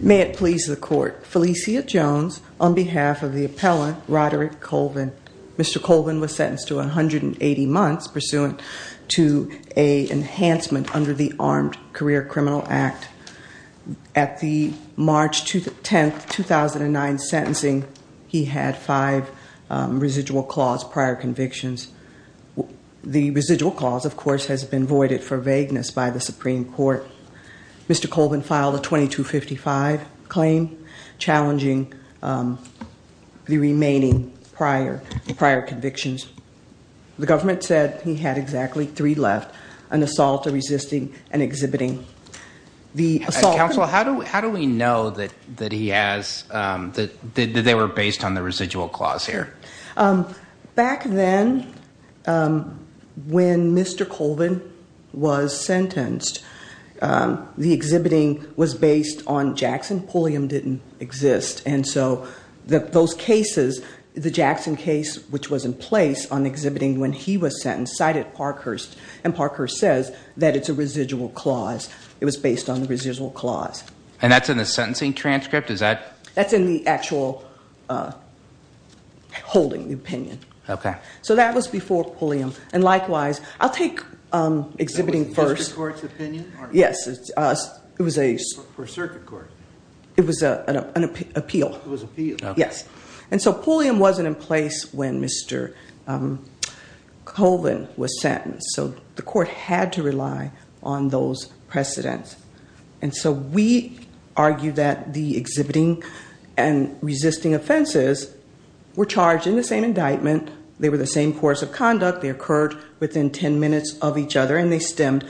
May it please the court. Felicia Jones on behalf of the appellant Roderick Colvin. Mr. Colvin was sentenced to 180 months pursuant to a enhancement under the Armed Career Criminal Act. At the March 10, 2009 sentencing he had five residual clause prior convictions. The residual clause of course has been voided for Mr. Colvin filed a 2255 claim challenging the remaining prior convictions. The government said he had exactly three left, an assault, a resisting, and exhibiting. Counsel how do we know that he has that they were based on the residual clause here? Back then when Mr. Colvin was exhibiting was based on Jackson Pulliam didn't exist and so that those cases the Jackson case which was in place on exhibiting when he was sentenced cited Parkhurst and Parkhurst says that it's a residual clause it was based on the residual clause. And that's in the sentencing transcript is that? That's in the actual holding the opinion. Okay. So that was before Pulliam and likewise I'll make exhibiting first. Yes it was a circuit court. It was a an appeal. Yes. And so Pulliam wasn't in place when Mr. Colvin was sentenced so the court had to rely on those precedents. And so we argue that the exhibiting and resisting offenses were charged in the same indictment they were the same course of each other and they stemmed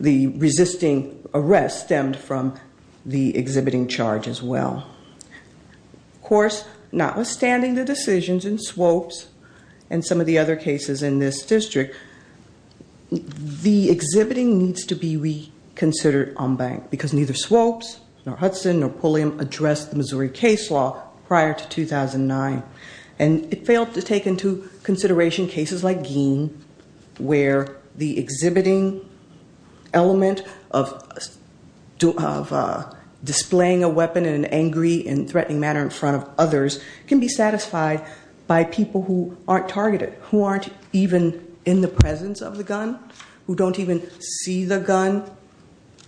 the resisting arrest stemmed from the exhibiting charge as well. Of course notwithstanding the decisions in Swopes and some of the other cases in this district the exhibiting needs to be reconsidered on bank because neither Swopes nor Hudson nor Pulliam addressed the Missouri case law prior to 2009 and it failed to take into consideration cases like Gein where the exhibiting element of displaying a weapon in an angry and threatening manner in front of others can be satisfied by people who aren't targeted who aren't even in the presence of the gun who don't even see the gun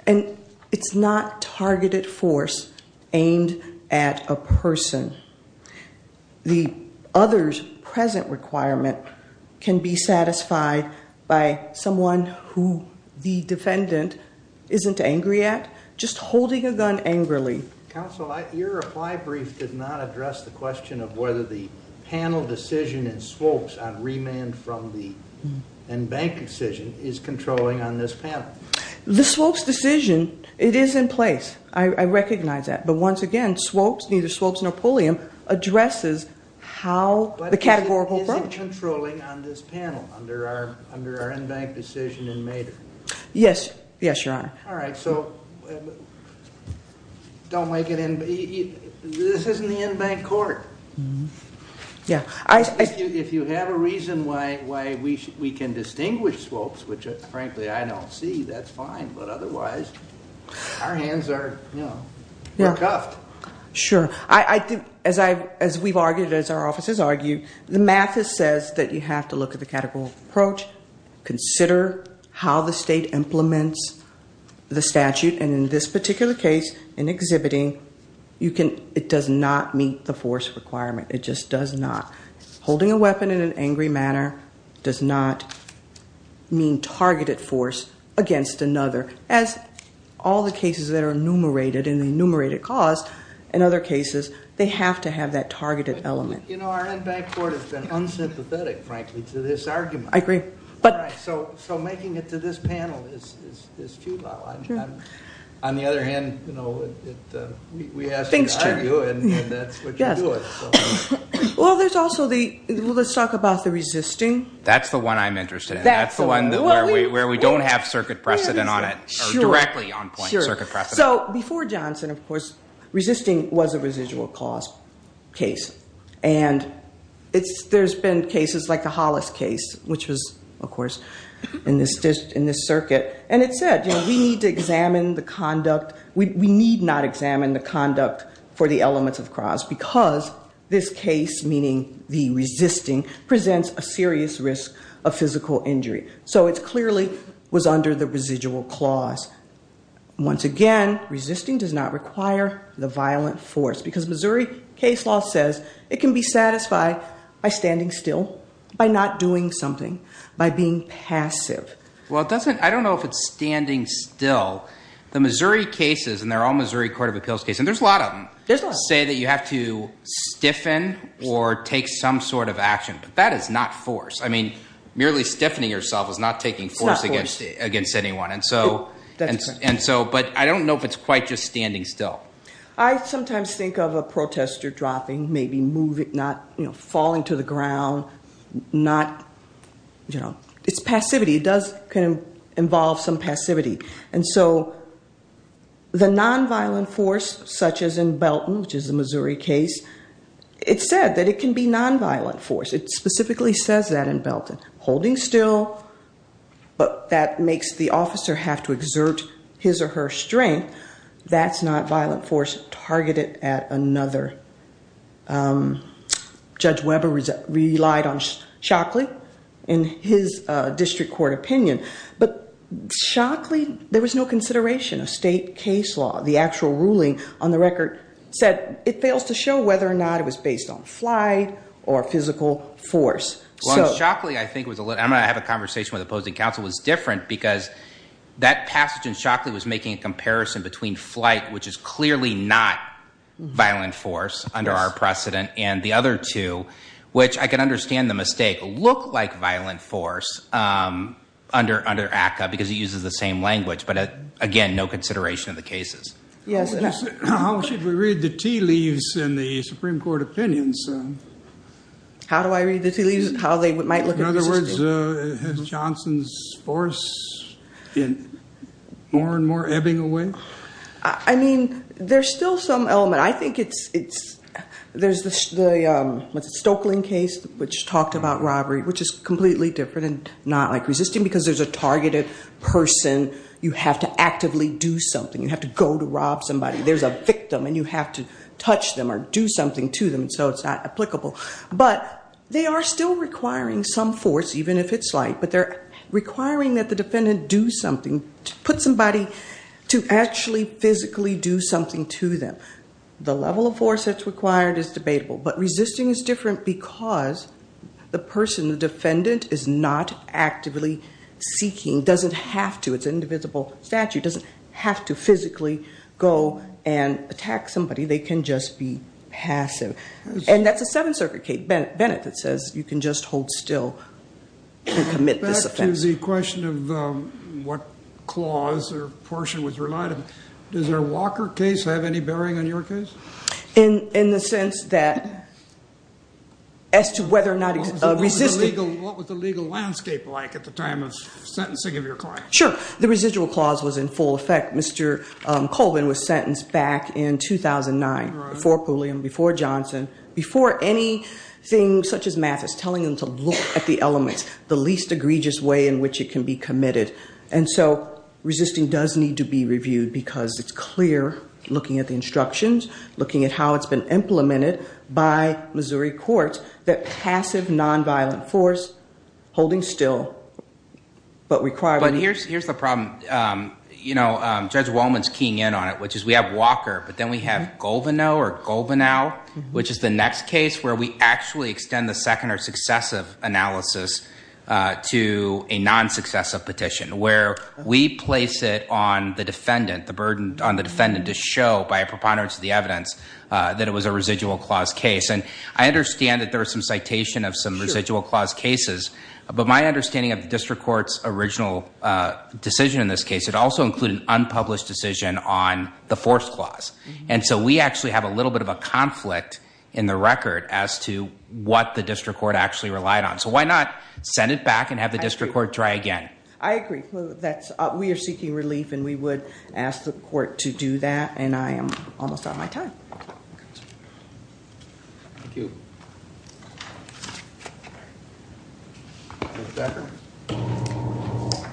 and it's not targeted force aimed at a person. The others present requirement can be satisfied by someone who the defendant isn't angry at just holding a gun angrily. Counselor your reply brief did not address the question of whether the panel decision in Swopes on remand from the and bank decision is controlling on this panel. The Swopes decision it is in place I recognize that but once again Swopes neither Swopes nor Pulliam addresses how the categorical isn't controlling on this panel under our under our in bank decision in Maidor. Yes yes your honor. All right so don't make it in this isn't the in bank court. Yeah I if you have a reason why why we should we can distinguish Swopes which frankly I don't see that's fine but otherwise our hands are you know we're cuffed. Sure I as I as we've argued as our offices argued the math is says that you have to look at the categorical approach consider how the state implements the statute and in this particular case in exhibiting you can it does not meet the force requirement it just does not. Holding a weapon in an angry manner does not mean targeted force against another as all the cases that are enumerated in the enumerated cost in other cases they have to have that targeted element. You know our in bank court has been unsympathetic frankly to this argument. I agree. So making it to this panel is too low. On the other hand we asked you to argue and that's what you're doing. Well there's also the let's talk about the resisting. That's the one I'm interested in that's the one that where we where we don't have circuit precedent on it So before Johnson of course resisting was a residual cost case and it's there's been cases like the Hollis case which was of course in this circuit and it said we need to examine the conduct we need not examine the conduct for the elements of cause because this case meaning the resisting presents a serious risk of Once again resisting does not require the violent force because Missouri case law says it can be satisfied by standing still by not doing something by being passive. Well it doesn't I don't know if it's standing still. The Missouri cases and they're all Missouri court of appeals case and there's a lot of them say that you have to stiffen or take some sort of action but that is not force. I mean merely stiffening yourself is not taking force against against anyone and so But I don't know if it's quite just standing still. I sometimes think of a protester dropping maybe moving not you know falling to the ground not you know it's passivity does can involve some passivity and so the nonviolent force such as in Belton which is a Missouri case it said that it can be nonviolent force it specifically says that in Belton holding still but that makes the officer have to exert His or her strength that's not violent force targeted at another judge Webber is relied on Shockley in his district court opinion but Shockley there was no consideration of state case law the actual ruling on the record said it fails to show whether or not it was based on fly or physical force so Shockley I think was a little I'm gonna have a conversation with opposing counsel was different because That passage and Shockley was making a comparison between flight, which is clearly not violent force under our precedent and the other two, which I can understand the mistake look like violent force. Under under ACTA because he uses the same language, but again, no consideration of the cases. Yes, how should we read the tea leaves in the Supreme Court opinions. How do I read the tea leaves, how they might look In other words, has Johnson's force been more and more ebbing away. I mean there's still some element I think it's it's there's the Stokeland case which talked about robbery, which is completely different and not like resisting because there's a targeted person you have to actively do something you have to go to rob somebody there's a victim and you have to touch them or do something to them so it's not applicable. But they are still requiring some force, even if it's like but they're requiring that the defendant do something to put somebody to actually physically do something to them. The level of force that's required is debatable but resisting is different because the person the defendant is not actively seeking doesn't have to it's indivisible statute doesn't have to physically go and attack somebody they can just be passive. And that's a seven circuit case Bennett that says you can just hold still and commit this offense. Back to the question of what clause or portion was relied on, does our Walker case have any bearing on your case? In the sense that as to whether or not resisting. What was the legal landscape like at the time of sentencing of your client? Sure, the residual clause was in full effect, Mr. Colvin was sentenced back in 2009 before Pulliam, before Johnson, before anything such as math is telling them to look at the elements, the least egregious way in which it can be committed. And so resisting does need to be reviewed because it's clear looking at the instructions, looking at how it's been implemented by Missouri courts that passive nonviolent force holding still. But here's the problem, you know, Judge Wallman's keying in on it, which is we have Walker, but then we have Golvenow or Golvenow, which is the next case where we actually extend the second or successive analysis to a non-successive petition where we place it on the defendant, the burden on the defendant to show by a preponderance of the evidence that it was a residual clause case. And I understand that there was some citation of some residual clause cases, but my understanding of the district court's original decision in this case, it also included an unpublished decision on the fourth clause. And so we actually have a little bit of a conflict in the record as to what the district court actually relied on. So why not send it back and have the district court try again? I agree. That's we are seeking relief and we would ask the court to do that. And I am almost out of my time. Thank you.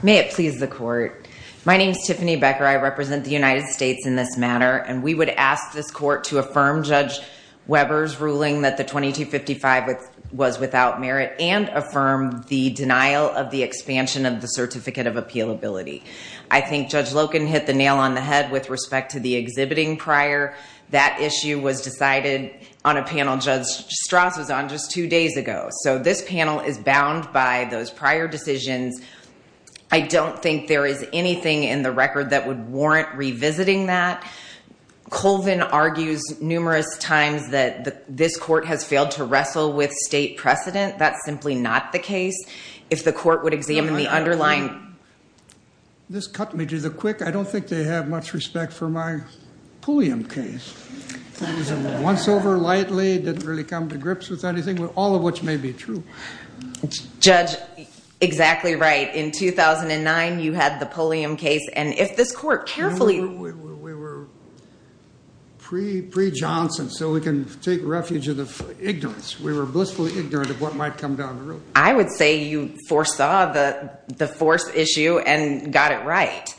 May it please the court. My name is Tiffany Becker. I represent the United States in this matter. And we would ask this court to affirm Judge Weber's ruling that the 2255 was without merit and affirm the denial of the expansion of the certificate of appeal ability. I think Judge Loken hit the nail on the head with respect to the exhibiting prior. That issue was decided on a panel Judge Strauss was on just two days ago. So this panel is bound by those prior decisions. I don't think there is anything in the record that would warrant revisiting that. Colvin argues numerous times that this court has failed to wrestle with state precedent. That's simply not the case. If the court would examine the underlying. This cut me to the quick. I don't think they have much respect for my Pulliam case. Once over lightly, didn't really come to grips with anything. All of which may be true. Judge, exactly right. In 2009, you had the Pulliam case. And if this court carefully. We were pre, pre Johnson. So we can take refuge of the ignorance. We were blissfully ignorant of what might come down the road. I would say you foresaw the force issue and got it right.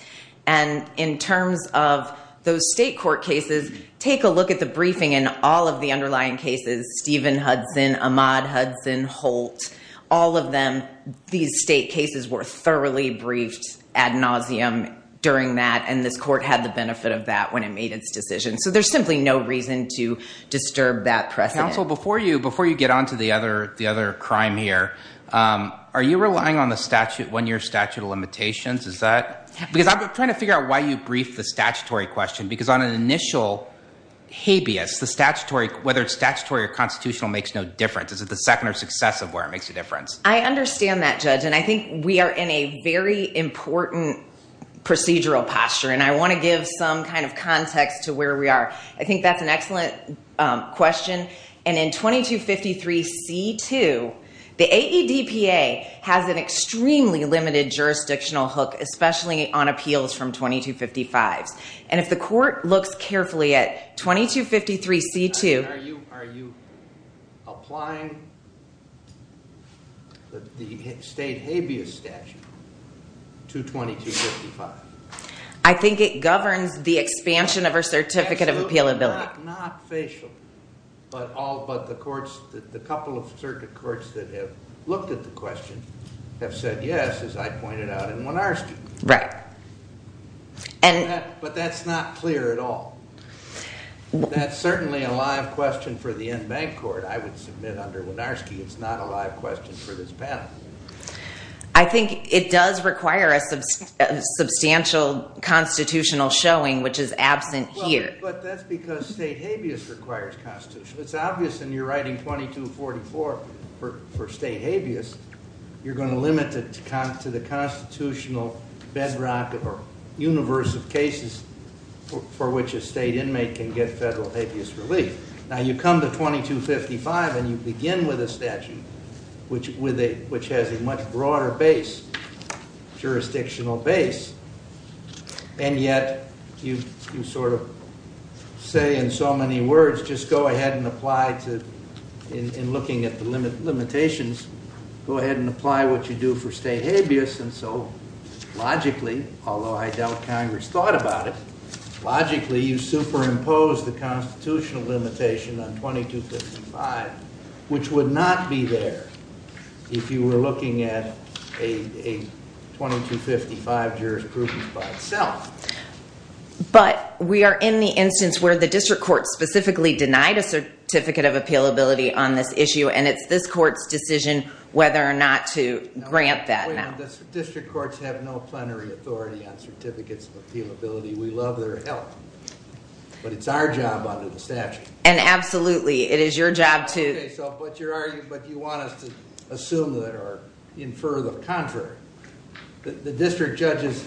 And in terms of those state court cases. Take a look at the briefing and all of the underlying cases. Stephen Hudson, Ahmaud Hudson, Holt, all of them. These state cases were thoroughly briefed ad nauseum during that. And this court had the benefit of that when it made its decision. So there's simply no reason to disturb that press council before you. Before you get onto the other the other crime here. Are you relying on the statute when your statute of limitations is that. Because I'm trying to figure out why you briefed the statutory question. Because on an initial habeas, the statutory, whether it's statutory or constitutional, makes no difference. Is it the second or success of where it makes a difference? I understand that judge. And I think we are in a very important procedural posture. And I want to give some kind of context to where we are. I think that's an excellent question. And in 2253 C2, the AEDPA has an extremely limited jurisdictional hook. Especially on appeals from 2255s. And if the court looks carefully at 2253 C2. Are you are you applying the state habeas statute to 2255? I think it governs the expansion of our certificate of appealability. Not facial, but all but the courts, the couple of circuit courts that have looked at the question have said yes, as I pointed out. And Wynarski, right. And but that's not clear at all. That's certainly a live question for the in-bank court. I would submit under Wynarski, it's not a live question for this panel. I think it does require a substantial constitutional showing, which is absent here. But that's because state habeas requires constitution. It's obvious in your writing 2244 for state habeas. You're going to limit it to the constitutional bedrock or universe of cases for which a state inmate can get federal habeas relief. Now, you come to 2255 and you begin with a statute which with a which has a much broader base, jurisdictional base. And yet you sort of say in so many words, just go ahead and apply to in looking at the limitations, go ahead and apply what you do for state habeas. And so logically, although I doubt Congress thought about it, logically, you superimpose the constitutional limitation on 2255, which would not be there if you were looking at a 2255 jurisprudence by itself. But we are in the instance where the district court specifically denied a certificate of appealability on this issue. And it's this court's decision whether or not to grant that. Now, the district courts have no plenary authority on certificates of appealability. We love their help, but it's our job under the statute. And absolutely it is your job to. So what you're arguing, but you want us to assume that or infer the contrary, that the district judges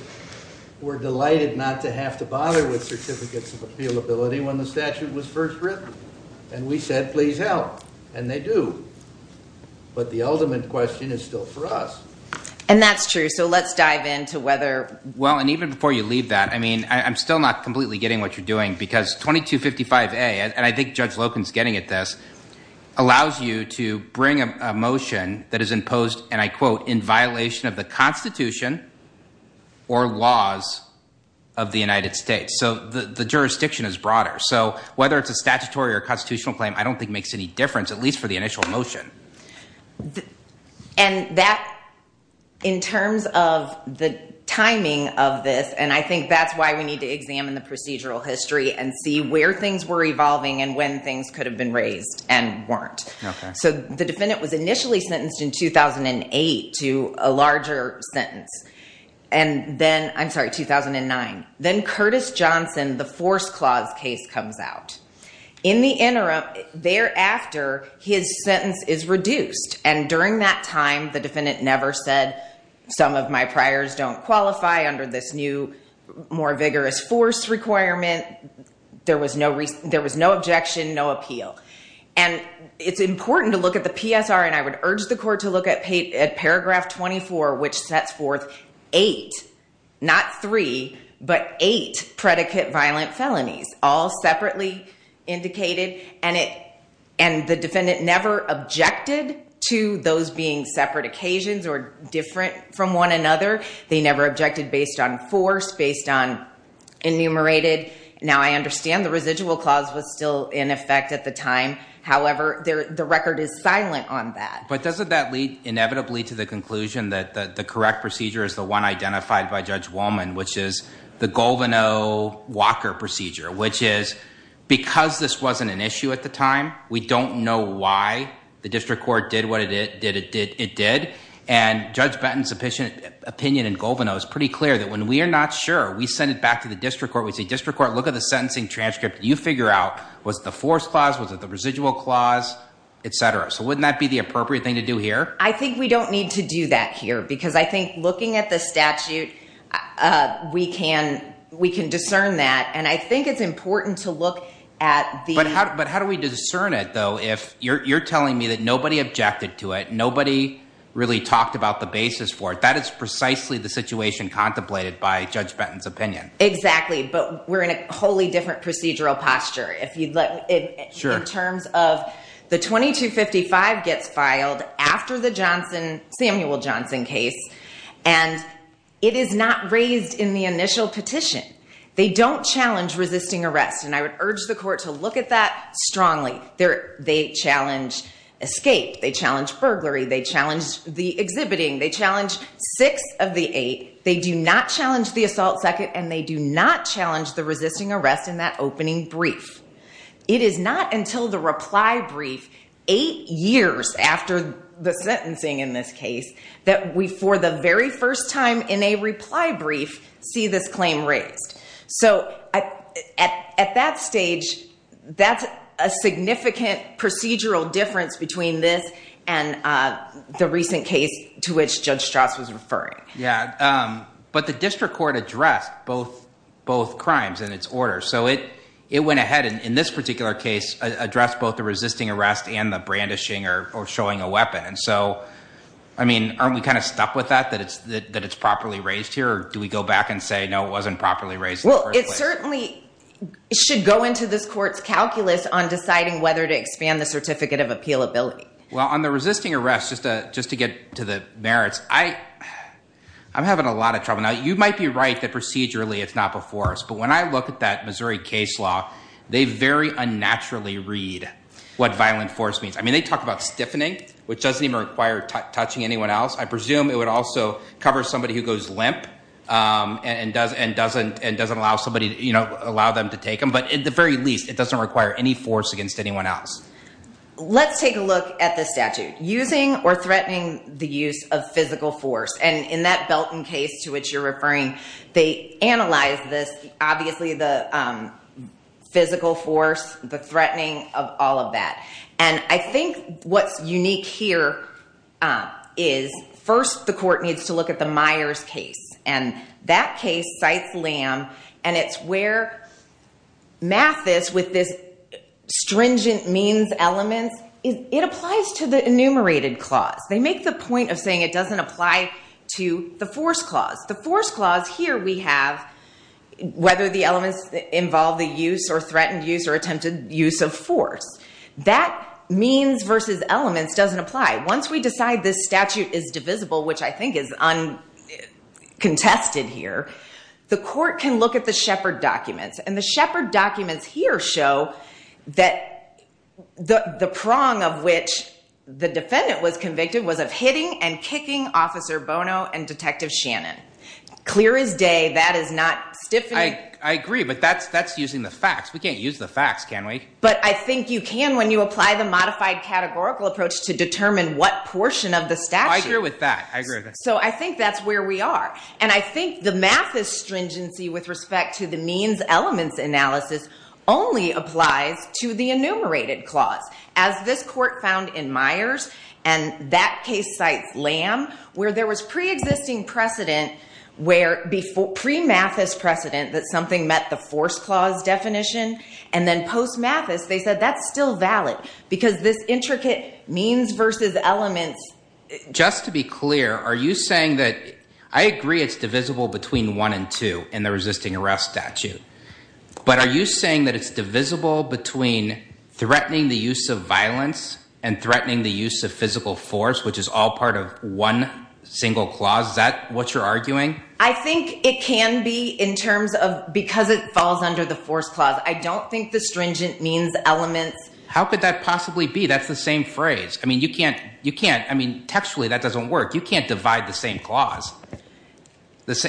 were delighted not to have to bother with certificates of appealability when the statute was first written. And we said, please help. And they do. But the ultimate question is still for us. And that's true. So let's dive into whether. Well, and even before you leave that, I mean, I'm still not completely getting what you're doing, because 2255A, and I think Judge Locke is getting at this, allows you to bring a motion that is imposed, and I quote, in violation of the Constitution or laws of the United States. So the jurisdiction is broader. So whether it's a statutory or constitutional claim, I don't think makes any difference, at least for the initial motion. And that in terms of the timing of this, and I think that's why we need to examine the procedural history and see where things were evolving and when things could have been raised and weren't. So the defendant was initially sentenced in 2008 to a larger sentence. And then I'm sorry, 2009. Then Curtis Johnson, the force clause case comes out in the interim. Thereafter, his sentence is reduced. And during that time, the defendant never said some of my priors don't qualify under this new, more vigorous force requirement. There was no there was no objection, no appeal. And it's important to look at the PSR. And I would urge the court to look at at paragraph 24, which sets forth eight, not three, but eight predicate violent felonies all separately indicated. And it and the defendant never objected to those being separate occasions or different from one another. They never objected based on force, based on enumerated. Now, I understand the residual clause was still in effect at the time. However, the record is silent on that. But doesn't that lead inevitably to the conclusion that the correct procedure is the one identified by Judge Wollman, which is the Golvino Walker procedure, which is because this wasn't an issue at the time. We don't know why the district court did what it did. It did. It did. And Judge Benton's opinion in Golvino is pretty clear that when we are not sure, we send it back to the district court. We say district court, look at the sentencing transcript. You figure out was the force clause, was it the residual clause, et cetera. So wouldn't that be the appropriate thing to do here? I think we don't need to do that here, because I think looking at the statute, we can we can discern that. And I think it's important to look at the. But how do we discern it, though, if you're telling me that nobody objected to it? Nobody really talked about the basis for it. That is precisely the situation contemplated by Judge Benton's opinion. Exactly. But we're in a wholly different procedural posture. If you let it. Sure. In terms of the 2255 gets filed after the Johnson Samuel Johnson case, and it is not raised in the initial petition. They don't challenge resisting arrest. And I would urge the court to look at that strongly there. They challenge escape. They challenge burglary. They challenge the exhibiting. They challenge six of the eight. They do not challenge the assault second. And they do not challenge the resisting arrest in that opening brief. It is not until the reply brief eight years after the sentencing in this case that we for the very first time in a reply brief see this claim raised. So at that stage, that's a significant procedural difference between this and the recent case to which Judge Strauss was referring. Yeah. But the district court addressed both both crimes in its order. So it it went ahead. And in this particular case, address both the resisting arrest and the brandishing or showing a weapon. And so, I mean, aren't we kind of stuck with that? That it's that it's properly raised here. Do we go back and say, no, it wasn't properly raised? Well, it certainly should go into this court's calculus on deciding whether to expand the certificate of appeal ability. Well, on the resisting arrest, just to just to get to the merits, I I'm having a lot of trouble now. You might be right that procedurally it's not before us. But when I look at that Missouri case law, they very unnaturally read what violent force means. I mean, they talk about stiffening, which doesn't even require touching anyone else. I presume it would also cover somebody who goes limp and does and doesn't and doesn't allow somebody to allow them to take them. But at the very least, it doesn't require any force against anyone else. Let's take a look at the statute using or threatening the use of physical force. And in that Belton case to which you're referring, they analyze this, obviously, the physical force, the threatening of all of that. And I think what's unique here is first the court needs to look at the Myers case. And that case cites Lamb. And it's where Mathis, with this stringent means elements, it applies to the enumerated clause. They make the point of saying it doesn't apply to the force clause. The force clause here we have, whether the elements involve the use or threatened use or attempted use of force. That means versus elements doesn't apply. Once we decide this statute is divisible, which I think is contested here, the court can look at the Shepard documents. And the Shepard documents here show that the prong of which the defendant was convicted was of hitting and kicking Officer Bono and Detective Shannon. Clear as day, that is not stiffening. I agree. But that's that's using the facts. We can't use the facts, can we? But I think you can when you apply the modified categorical approach to determine what portion of the statute. I agree with that. I agree. So I think that's where we are. And I think the Mathis stringency with respect to the means elements analysis only applies to the enumerated clause, as this court found in Myers. And that case cites Lamb, where there was preexisting precedent where before pre Mathis precedent that something met the force clause definition and then post Mathis, they said that's still valid because this intricate means versus elements. Just to be clear, are you saying that I agree it's divisible between one and two in the resisting arrest statute? But are you saying that it's divisible between threatening the use of violence and threatening the use of physical force, which is all part of one single clause? Is that what you're arguing? I think it can be in terms of because it falls under the force clause. I don't think the stringent means elements. How could that possibly be? That's the same phrase. I mean, you can't you can't. I mean, textually, that doesn't work. You can't divide the same clause.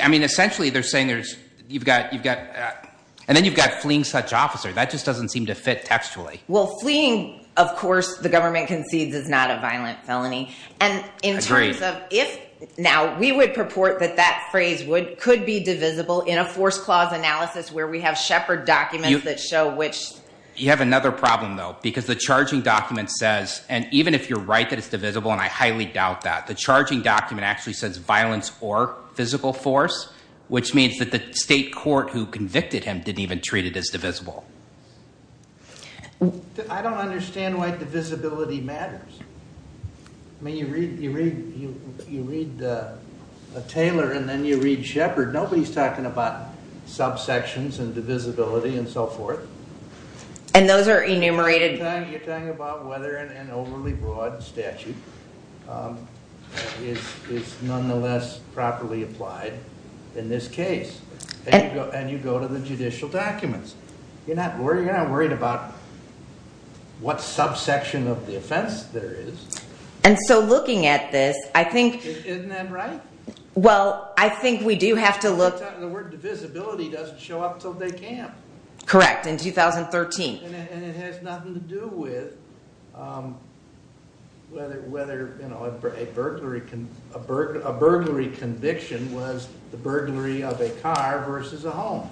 I mean, essentially, they're saying there's you've got you've got and then you've got fleeing such officer that just doesn't seem to fit textually. Well, fleeing, of course, the government concedes is not a violent felony. And in terms of if now we would purport that that phrase would could be divisible in a force clause analysis where we have Shepard documents that show which you have another problem, though, because the charging document says and even if you're right, that it's divisible. And I highly doubt that the charging document actually says violence or physical force, which means that the state court who convicted him didn't even treat it as divisible. I don't understand why divisibility matters. I mean, you read you read you read the Taylor and then you read Shepard. Nobody's talking about subsections and divisibility and so forth. And those are enumerated. You're talking about whether an overly broad statute is is nonetheless properly applied in this case. And you go to the judicial documents. You're not worried. You're not worried about what subsection of the offense there is. And so looking at this, I think isn't that right? Well, I think we do have to look at the word divisibility doesn't show up till they can. Correct. In 2013, and it has nothing to do with whether whether, you know, a burglary, a burglary conviction was the burglary of a car versus a home.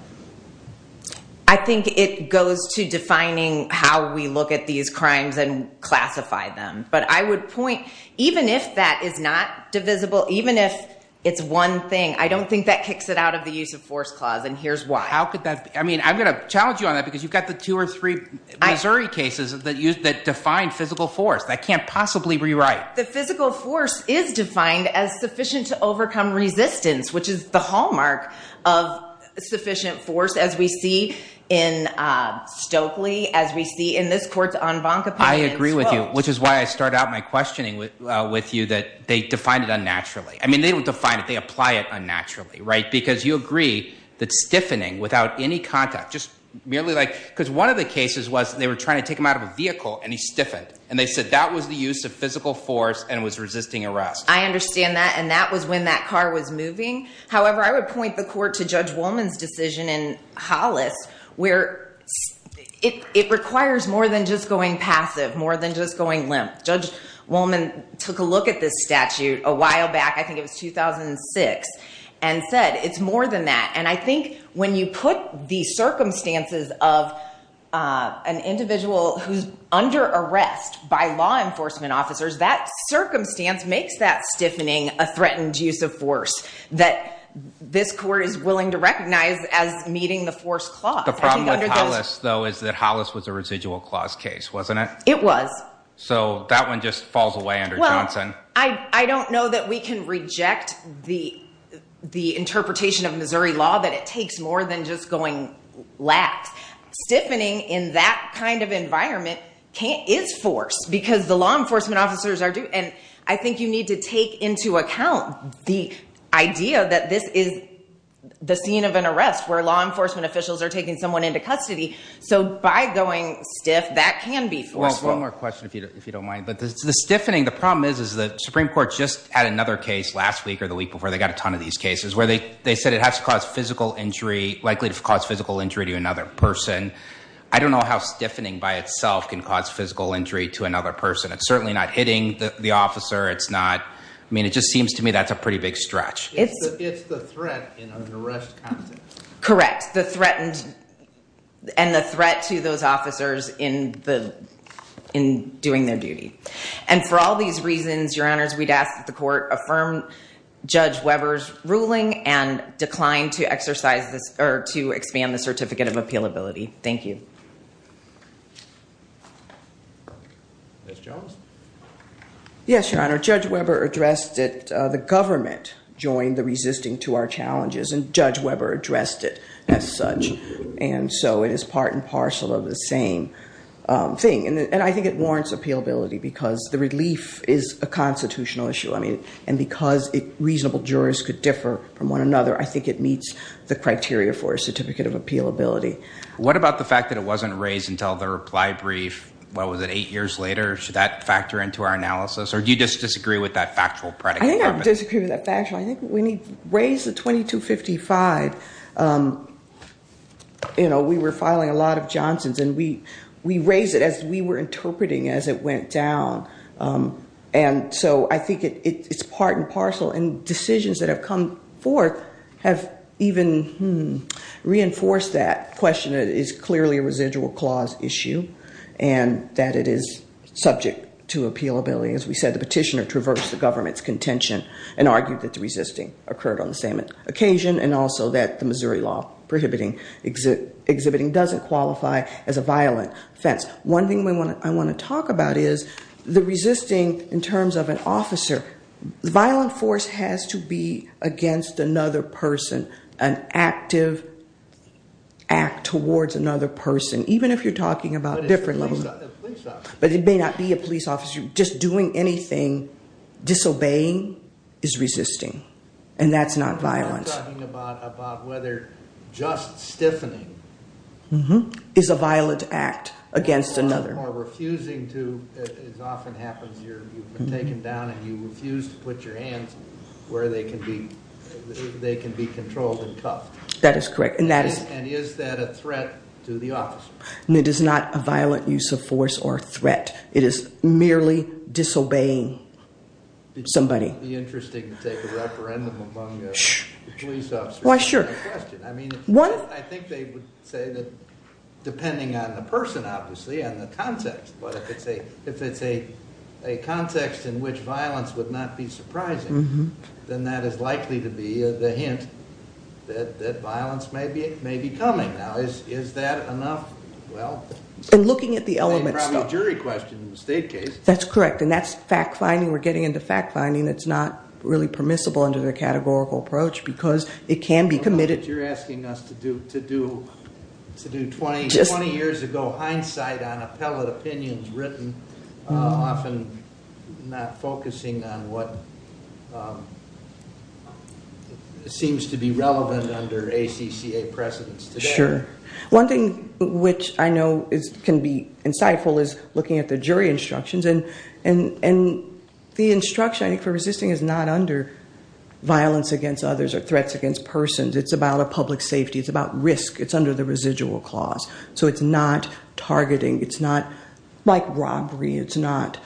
I think it goes to defining how we look at these crimes and classify them. But I would point even if that is not divisible, even if it's one thing, I don't think that kicks it out of the use of force clause. And here's why. How could that be? I mean, I'm going to challenge you on that because you've got the two or three Missouri cases that use that defined physical force that can't possibly rewrite. The physical force is defined as sufficient to overcome resistance, which is the hallmark of sufficient force, as we see in Stokely, as we see in this court's en banc opinion. I agree with you, which is why I start out my questioning with you, that they define it unnaturally. I mean, they would define it. They apply it unnaturally. Right. Because you agree that stiffening without any contact, just merely like because one of the cases was they were trying to take him out of a vehicle and he stiffened and they said that was the use of physical force and was resisting arrest. I understand that. And that was when that car was moving. However, I would point the court to Judge Wolman's decision in Hollis, where it requires more than just going passive, more than just going limp. Judge Wolman took a look at this statute a while back. I think it was 2006 and said it's more than that. And I think when you put the circumstances of an individual who's under arrest by law enforcement officers, that circumstance makes that stiffening a threatened use of force that this court is willing to recognize as meeting the force clause. The problem with Hollis, though, is that Hollis was a residual clause case, wasn't it? It was. So that one just falls away under Johnson. I don't know that we can reject the the interpretation of Missouri law that it takes more than just going lax. Stiffening in that kind of environment can't is forced because the law enforcement officers are due. And I think you need to take into account the idea that this is the scene of an arrest where law enforcement officials are taking someone into custody. So by going stiff, that can be forced. One more question, if you don't mind. But the stiffening, the problem is, is the Supreme Court just had another case last week or the week before they got a ton of these cases where they they said it has to cause physical injury, likely to cause physical injury to another person. I don't know how stiffening by itself can cause physical injury to another person. It's certainly not hitting the officer. It's not. I mean, it just seems to me that's a pretty big stretch. It's it's the threat in an arrest. Correct. The threatened and the threat to those officers in the in doing their duty. And for all these reasons, your honors, we'd ask that the court affirm Judge Weber's ruling and decline to exercise this or to expand the certificate of appeal ability. Thank you. Ms. Jones. Yes, your honor, Judge Weber addressed it. The government joined the resisting to our challenges and Judge Weber addressed it as such. And so it is part and parcel of the same thing. And I think it warrants appealability because the relief is a constitutional issue. I mean, and because reasonable jurors could differ from one another, I think it meets the criteria for a certificate of appeal ability. What about the fact that it wasn't raised in the Supreme Court? Until the reply brief. What was it, eight years later? Should that factor into our analysis or do you just disagree with that factual predicate? I disagree with that factually. I think we need to raise the twenty to fifty five. You know, we were filing a lot of Johnson's and we we raise it as we were interpreting as it went down. And so I think it's part and parcel and decisions that have come forth have even reinforced that question. It is clearly a residual clause issue and that it is subject to appealability. As we said, the petitioner traversed the government's contention and argued that the resisting occurred on the same occasion and also that the Missouri law prohibiting exhibiting doesn't qualify as a violent offense. One thing I want to talk about is the resisting in terms of an officer. Violent force has to be against another person. An active. Act towards another person, even if you're talking about different levels, but it may not be a police officer just doing anything disobeying is resisting and that's not violence. Talking about about whether just stiffening is a violent act against another or refusing to. It often happens you're taken down and you refuse to put your hands where they can be. They can be controlled and cuffed. That is correct. And that is. And is that a threat to the officer? And it is not a violent use of force or threat. It is merely disobeying somebody. The interesting take a referendum among the police. Why? Sure. I mean, one, I think they would say that depending on the person, obviously, and the context. But if it's a if it's a a context in which violence would not be surprising. Then that is likely to be the hint that that violence may be may be coming. Now, is is that enough? Well, and looking at the element of jury question in the state case. That's correct. And that's fact finding. We're getting into fact finding. It's not really permissible under the categorical approach because it can be committed. You're asking us to do to do to do 20 to 20 years ago. Hindsight on appellate opinions written often not focusing on what? Seems to be relevant under ACCA precedents. Sure. One thing which I know is can be insightful is looking at the jury instructions and and and the instruction for resisting is not under violence against others or threats against persons. It's about a public safety. It's about risk. It's under the residual clause. So it's not targeting. It's not like robbery. It's not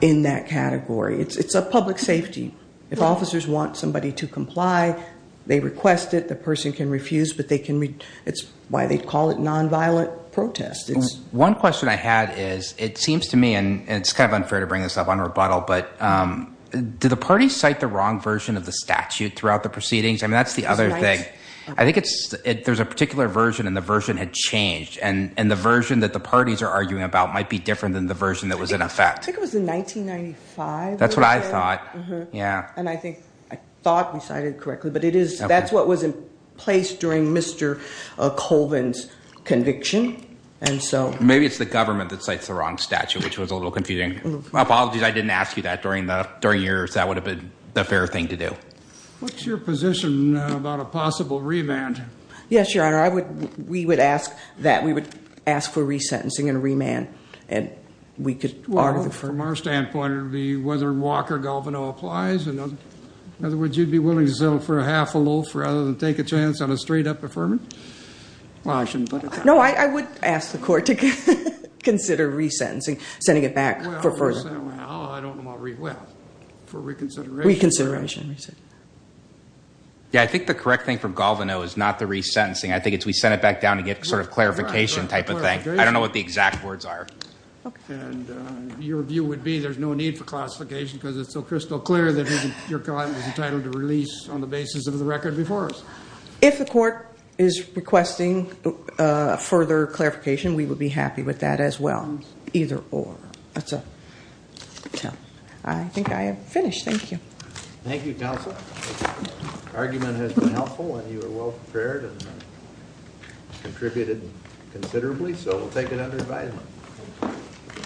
in that category. It's a public safety. If officers want somebody to comply, they request it. The person can refuse, but they can. It's why they call it nonviolent protest. It's one question I had is it seems to me and it's kind of unfair to bring this up on rebuttal. But do the parties cite the wrong version of the statute throughout the proceedings? I mean, that's the other thing. I think it's there's a particular version and the version had changed. And and the version that the parties are arguing about might be different than the version that was in effect. I think it was in 1995. That's what I thought. Yeah. And I think I thought we cited correctly, but it is. That's what was in place during Mr. Colvin's conviction. And so maybe it's the government that cites the wrong statute, which was a little confusing. Apologies. I didn't ask you that during the during yours. That would have been the fair thing to do. What's your position about a possible remand? Yes, your honor. I would. We would ask that we would ask for resentencing and remand. And we could argue from our standpoint, whether Walker Galvano applies. And in other words, you'd be willing to settle for a half a loaf rather than take a chance on a straight up affirming. Well, I shouldn't. No, I would ask the court to consider resentencing, sending it back for first. Oh, I don't know. Well, for reconsideration, reconsideration. Yeah, I think the correct thing from Galvano is not the resentencing. I think it's we sent it back down to get sort of clarification type of thing. I don't know what the exact words are. And your view would be there's no need for classification because it's so crystal clear that your client was entitled to release on the basis of the record before us. If the court is requesting further clarification, we would be happy with that as well. Either or. That's a tough. I think I have finished. Thank you. Thank you, counsel. Argument has been helpful and you are well prepared and contributed considerably. So we'll take it under advisement.